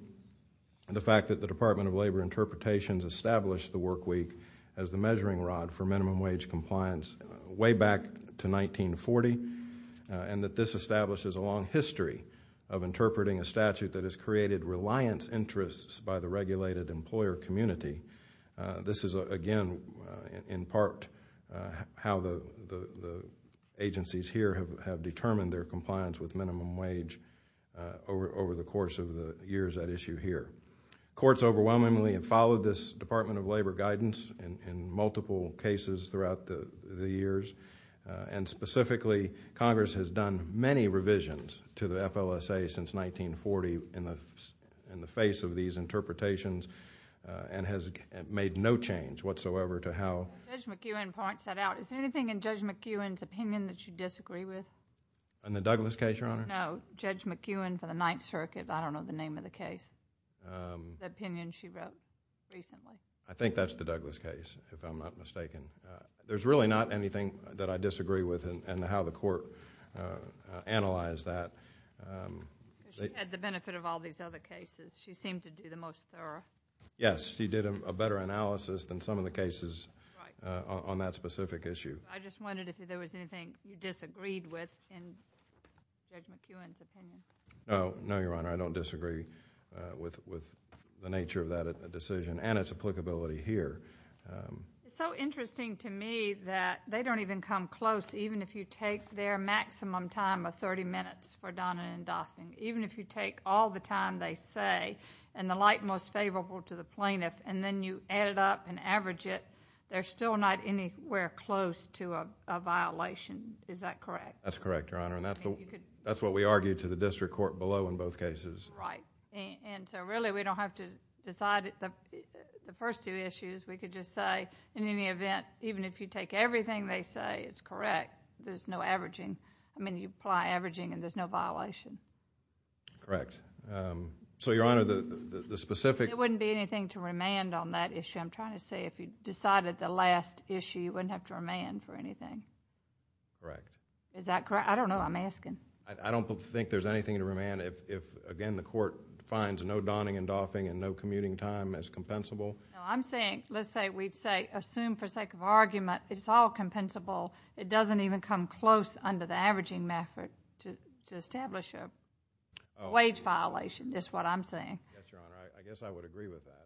the fact that the Department of Labor Interpretations established the workweek as the measuring rod for minimum wage compliance way back to 1940 and that this establishes a long history of interpreting a statute that has created reliance interests by the regulated employer community. This is, again, in part how the agencies here have determined their compliance with minimum wage over the course of the years at issue here. Courts overwhelmingly have followed this Department of Labor guidance in multiple cases throughout the years, and specifically Congress has done many revisions to the FLSA since 1940 in the face of these interpretations and has made no change whatsoever to how... Judge McEwen points that out. Is there anything in Judge McEwen's opinion that you disagree with? In the Douglas case, Your Honor? No, Judge McEwen for the 9th Circuit. I don't know the name of the case, the opinion she wrote recently. I think that's the Douglas case, if I'm not mistaken. There's really not anything that I disagree with and how the court analyzed that. She had the benefit of all these other cases. She seemed to do the most thorough. Yes, she did a better analysis than some of the cases on that specific issue. I just wondered if there was anything you disagreed with in Judge McEwen's opinion. No, Your Honor, I don't disagree with the nature of that decision and its applicability here. It's so interesting to me that they don't even come close, even if you take their maximum time of 30 minutes for Donna and Daphne, even if you take all the time they say and the like most favorable to the plaintiff and then you add it up and average it, they're still not anywhere close to a violation. Is that correct? That's correct, Your Honor. That's what we argued to the district court below in both cases. Right. Really, we don't have to decide the first two issues. We could just say, in any event, even if you take everything they say, it's correct. There's no averaging. I mean, you apply averaging and there's no violation. Correct. So, Your Honor, the specific... There wouldn't be anything to remand on that issue. I'm trying to say if you decided the last issue, you wouldn't have to remand for anything. Correct. Is that correct? I don't know. I'm asking. I don't think there's anything to remand if, again, the court finds no Donna and Daphne and no commuting time as compensable. No, I'm saying, let's say we'd say, assume for sake of argument, it's all compensable. It doesn't even come close under the averaging method to establish a wage violation. That's what I'm saying. Yes, Your Honor. I guess I would agree with that.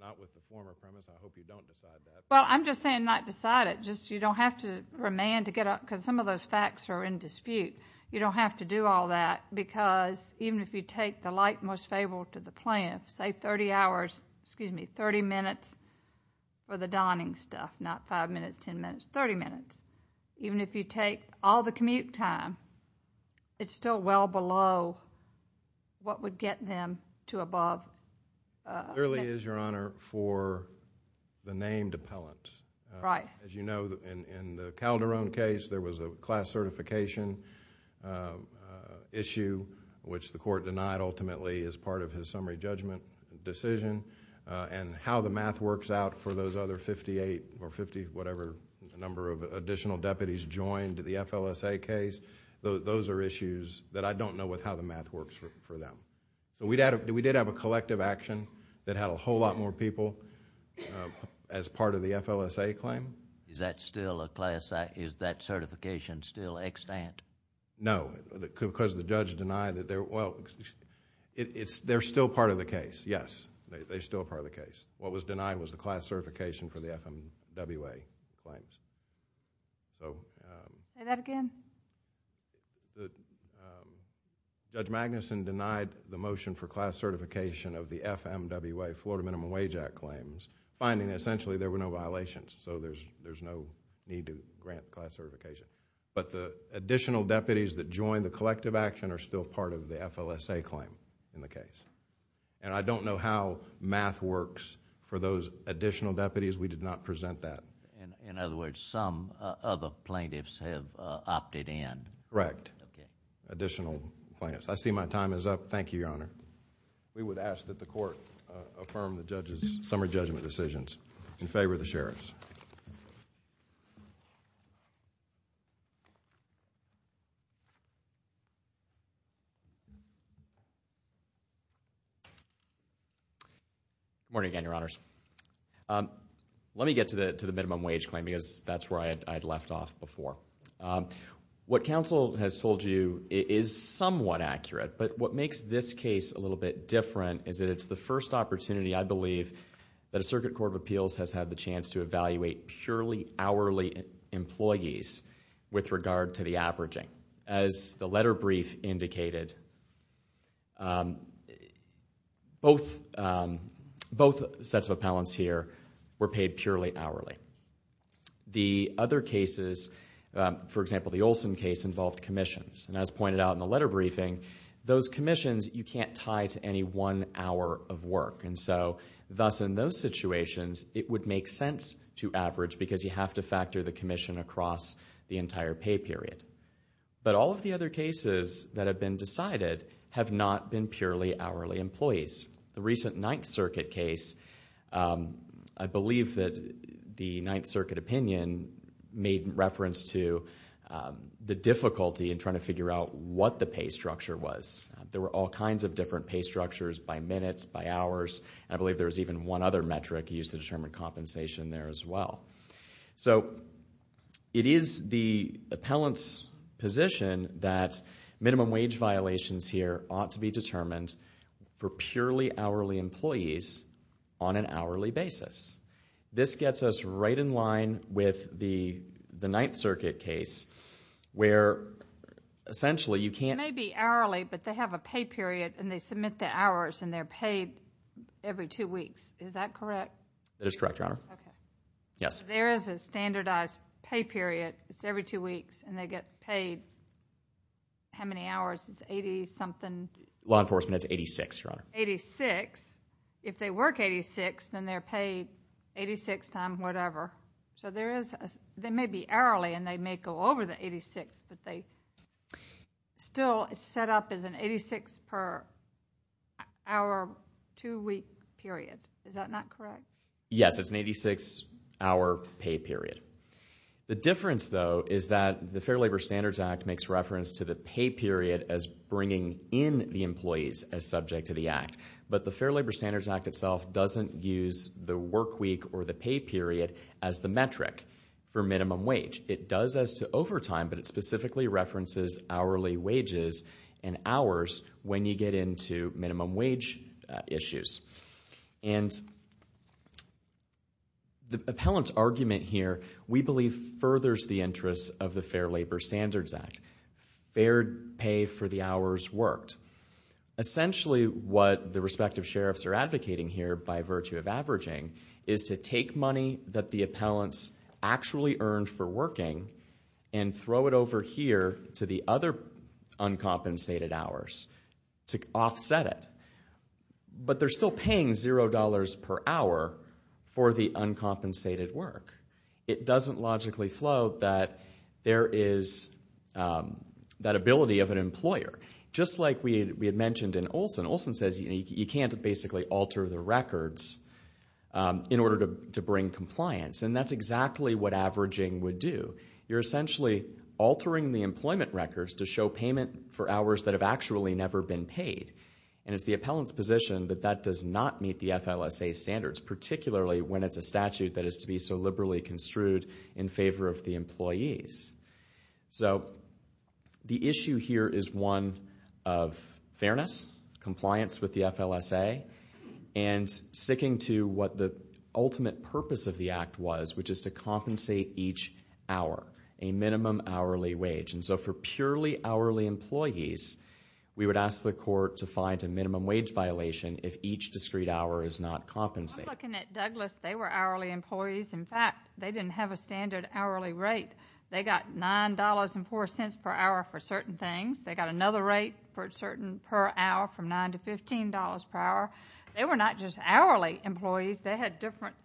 Not with the former premise. I hope you don't decide that. Well, I'm just saying not decide it. You don't have to remand to get a... because some of those facts are in dispute. You don't have to do all that because, even if you take the like most favorable to the plan, say 30 hours, excuse me, 30 minutes for the Donning stuff, not 5 minutes, 10 minutes, 30 minutes, even if you take all the commute time, it's still well below what would get them to above... Clearly is, Your Honor, for the named appellants. Right. As you know, in the Calderon case, there was a class certification issue, which the court denied ultimately as part of his summary judgment decision and how the math works out for those other 58 or 50, whatever, number of additional deputies joined the FLSA case. Those are issues that I don't know how the math works for them. We did have a collective action that had a whole lot more people as part of the FLSA claim. Is that certification still extant? No, because the judge denied that they're... They're still part of the case, yes. They're still part of the case. What was denied was the class certification for the FMWA claims. Say that again. Judge Magnuson denied the motion for class certification of the FMWA, Florida Minimum Wage Act claims, finding essentially there were no violations, so there's no need to grant class certification. The additional deputies that joined the collective action are still part of the FLSA claim in the case. I don't know how math works for those additional deputies. We did not present that. In other words, some other plaintiffs have opted in. Correct. Additional plaintiffs. I see my time is up. Thank you, Your Honor. We would ask that the court affirm the judge's summary judgment decisions in favor of the sheriffs. Good morning again, Your Honors. Let me get to the minimum wage claim because that's where I had left off before. What counsel has told you is somewhat accurate, but what makes this case a little bit different is that it's the first opportunity, I believe, that a circuit court of appeals has had the chance to evaluate purely hourly employees with regard to the averaging. As the letter brief indicated, both sets of appellants here were paid purely hourly. The other cases, for example, the Olson case involved commissions, and as pointed out in the letter briefing, those commissions you can't tie to any one hour of work, and so thus in those situations it would make sense to average because you have to factor the commission across the entire pay period. But all of the other cases that have been decided have not been purely hourly employees. The recent Ninth Circuit case, I believe that the Ninth Circuit opinion made reference to the difficulty in trying to figure out what the pay structure was. There were all kinds of different pay structures by minutes, by hours, and I believe there was even one other metric used to determine compensation there as well. So it is the appellant's position that minimum wage violations here ought to be determined for purely hourly employees on an hourly basis. This gets us right in line with the Ninth Circuit case where essentially you can't... They have a pay period, and they submit the hours, and they're paid every two weeks. Is that correct? That is correct, Your Honor. Okay. Yes. There is a standardized pay period. It's every two weeks, and they get paid how many hours? It's 80-something... Law enforcement, it's 86, Your Honor. 86. If they work 86, then they're paid 86 times whatever. So there may be hourly, and they may go over the 86, but they still set up as an 86-per-hour two-week period. Is that not correct? Yes, it's an 86-hour pay period. The difference, though, is that the Fair Labor Standards Act makes reference to the pay period as bringing in the employees as subject to the act, but the Fair Labor Standards Act itself doesn't use the work week or the pay period as the metric for minimum wage. It does as to overtime, but it specifically references hourly wages and hours when you get into minimum wage issues. And the appellant's argument here, we believe, furthers the interests of the Fair Labor Standards Act. Fair pay for the hours worked. Essentially, what the respective sheriffs are advocating here by virtue of averaging is to take money that the appellants actually earned for working and throw it over here to the other uncompensated hours to offset it. But they're still paying $0 per hour for the uncompensated work. It doesn't logically float that there is that ability of an employer. Just like we had mentioned in Olson. Olson says you can't basically alter the records in order to bring compliance, and that's exactly what averaging would do. You're essentially altering the employment records to show payment for hours that have actually never been paid. And it's the appellant's position that that does not meet the FLSA standards, particularly when it's a statute that is to be so liberally construed in favor of the employees. So the issue here is one of fairness, compliance with the FLSA, and sticking to what the ultimate purpose of the Act was, which is to compensate each hour, a minimum hourly wage. And so for purely hourly employees, we would ask the court to find a minimum wage violation if each discrete hour is not compensated. I'm looking at Douglas. They were hourly employees. In fact, they didn't have a standard hourly rate. They got $9.04 per hour for certain things. They got another rate per hour from $9 to $15 per hour. They were not just hourly employees. They had different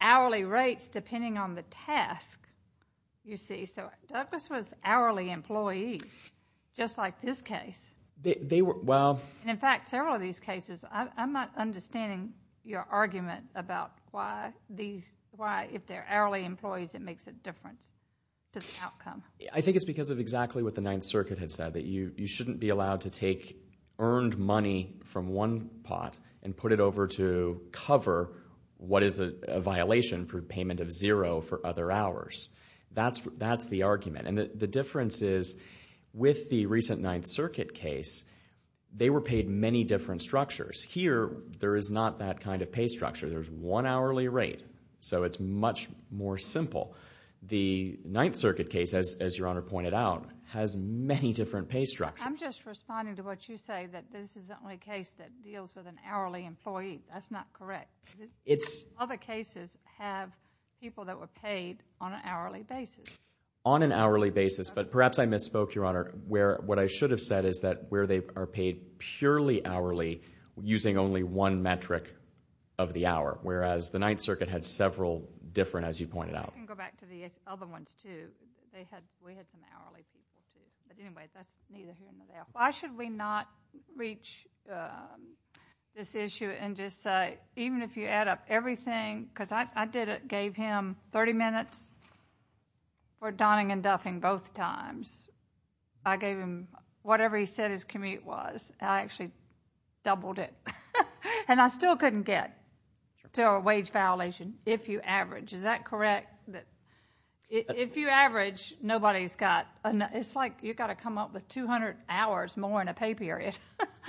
hourly rates depending on the task, you see. So Douglas was hourly employees, just like this case. And in fact, several of these cases, I'm not understanding your argument about why if they're hourly employees it makes a difference to the outcome. I think it's because of exactly what the Ninth Circuit had said, that you shouldn't be allowed to take earned money from one pot and put it over to cover what is a violation for payment of zero for other hours. That's the argument. And the difference is with the recent Ninth Circuit case, they were paid many different structures. Here there is not that kind of pay structure. There's one hourly rate. So it's much more simple. The Ninth Circuit case, as Your Honor pointed out, has many different pay structures. I'm just responding to what you say, that this is the only case that deals with an hourly employee. That's not correct. Other cases have people that were paid on an hourly basis. On an hourly basis, but perhaps I misspoke, Your Honor. What I should have said is that where they are paid purely hourly using only one metric of the hour, whereas the Ninth Circuit had several different, as you pointed out. I can go back to the other ones, too. We had some hourly people, too. But anyway, that's neither here nor there. Why should we not reach this issue and just say, even if you add up everything, because I gave him 30 minutes for donning and duffing both times. I gave him whatever he said his commute was. I actually doubled it. And I still couldn't get to a wage violation if you average. Is that correct? If you average, nobody's got enough. It's like you've got to come up with 200 hours more in a pay period.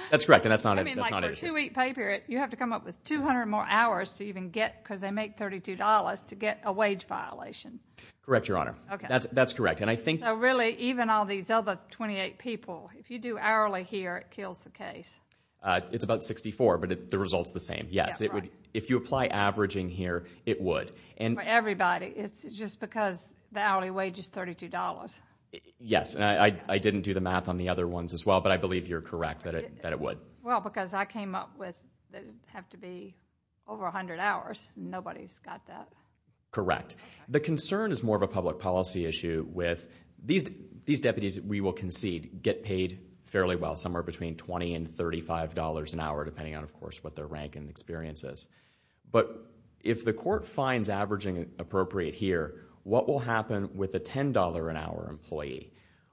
That's correct, and that's not an issue. I mean, like for a two-week pay period, you have to come up with 200 more hours to even get, because they make $32, to get a wage violation. Correct, Your Honor. That's correct. So really, even all these other 28 people, if you do hourly here, it kills the case. It's about 64, but the result's the same, yes. If you apply averaging here, it would. For everybody, it's just because the hourly wage is $32. Yes, and I didn't do the math on the other ones as well, but I believe you're correct that it would. Well, because I came up with it have to be over 100 hours. Nobody's got that. Correct. The concern is more of a public policy issue with these deputies, we will concede, get paid fairly well, somewhere between $20 and $35 an hour, depending on, of course, what their rank and experience is. But if the court finds averaging appropriate here, what will happen with a $10-an-hour employee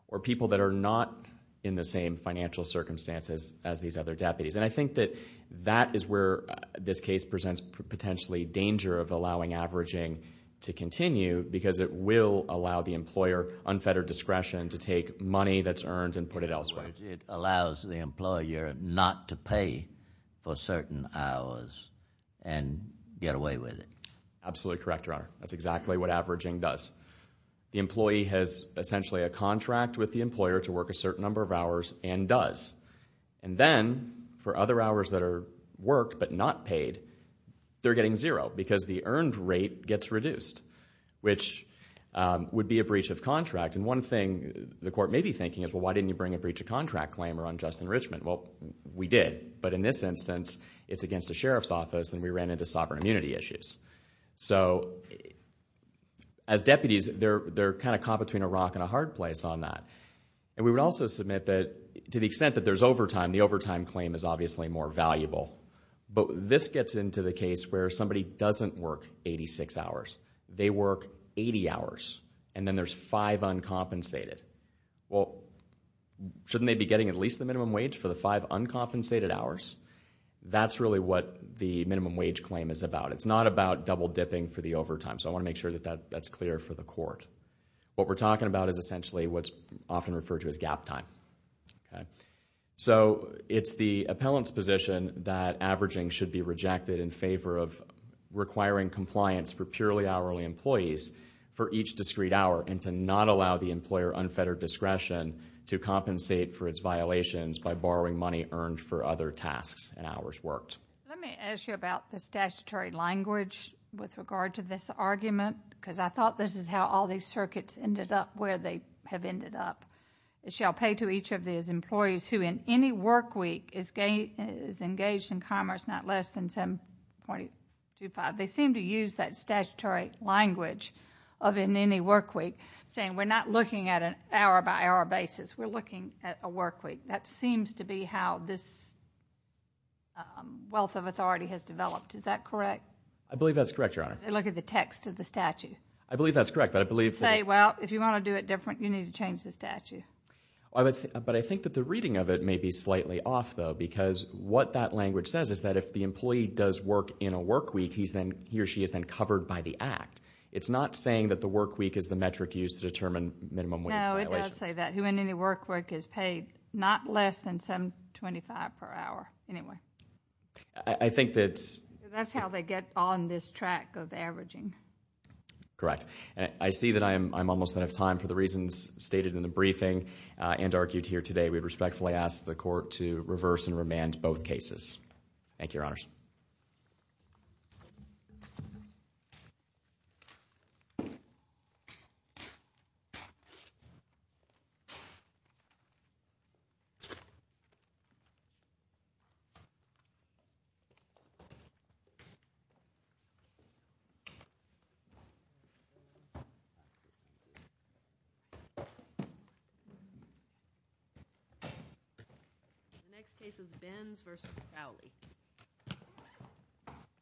or people that are not in the same financial circumstances as these other deputies? And I think that that is where this case presents potentially danger of allowing averaging to continue, because it will allow the employer unfettered discretion to take money that's earned and put it elsewhere. It allows the employer not to pay for certain hours and get away with it. Absolutely correct, Your Honor. That's exactly what averaging does. The employee has essentially a contract with the employer to work a certain number of hours and does. And then for other hours that are worked but not paid, they're getting zero because the earned rate gets reduced, which would be a breach of contract. And one thing the court may be thinking is, well, why didn't you bring a breach of contract claim or unjust enrichment? Well, we did. But in this instance, it's against the sheriff's office, and we ran into sovereign immunity issues. So as deputies, they're kind of caught between a rock and a hard place on that. And we would also submit that to the extent that there's overtime, the overtime claim is obviously more valuable. But this gets into the case where somebody doesn't work 86 hours. They work 80 hours. And then there's five uncompensated. Well, shouldn't they be getting at least the minimum wage for the five uncompensated hours? That's really what the minimum wage claim is about. It's not about double-dipping for the overtime. So I want to make sure that that's clear for the court. What we're talking about is essentially what's often referred to as gap time. So it's the appellant's position that averaging should be rejected in favor of requiring compliance for purely hourly employees for each discrete hour and to not allow the employer unfettered discretion to compensate for its violations by borrowing money earned for other tasks and hours worked. Let me ask you about the statutory language with regard to this argument, because I thought this is how all these circuits ended up where they have ended up. It shall pay to each of these employees who in any work week is engaged in commerce not less than 7.25. They seem to use that statutory language of in any work week, saying we're not looking at an hour-by-hour basis. We're looking at a work week. That seems to be how this wealth of authority has developed. Is that correct? I believe that's correct, Your Honor. They look at the text of the statute. I believe that's correct. They say, well, if you want to do it different, you need to change the statute. But I think that the reading of it may be slightly off, though, because what that language says is that if the employee does work in a work week, he or she is then covered by the act. It's not saying that the work week is the metric used to determine minimum wage violations. No, it does say that. Who in any work week is paid not less than 7.25 per hour. Anyway. I think that's... That's how they get on this track of averaging. Correct. I see that I'm almost out of time for the reasons stated in the briefing and argued here today. We respectfully ask the court to reverse and remand both cases. The next case is Benz v. Crowley.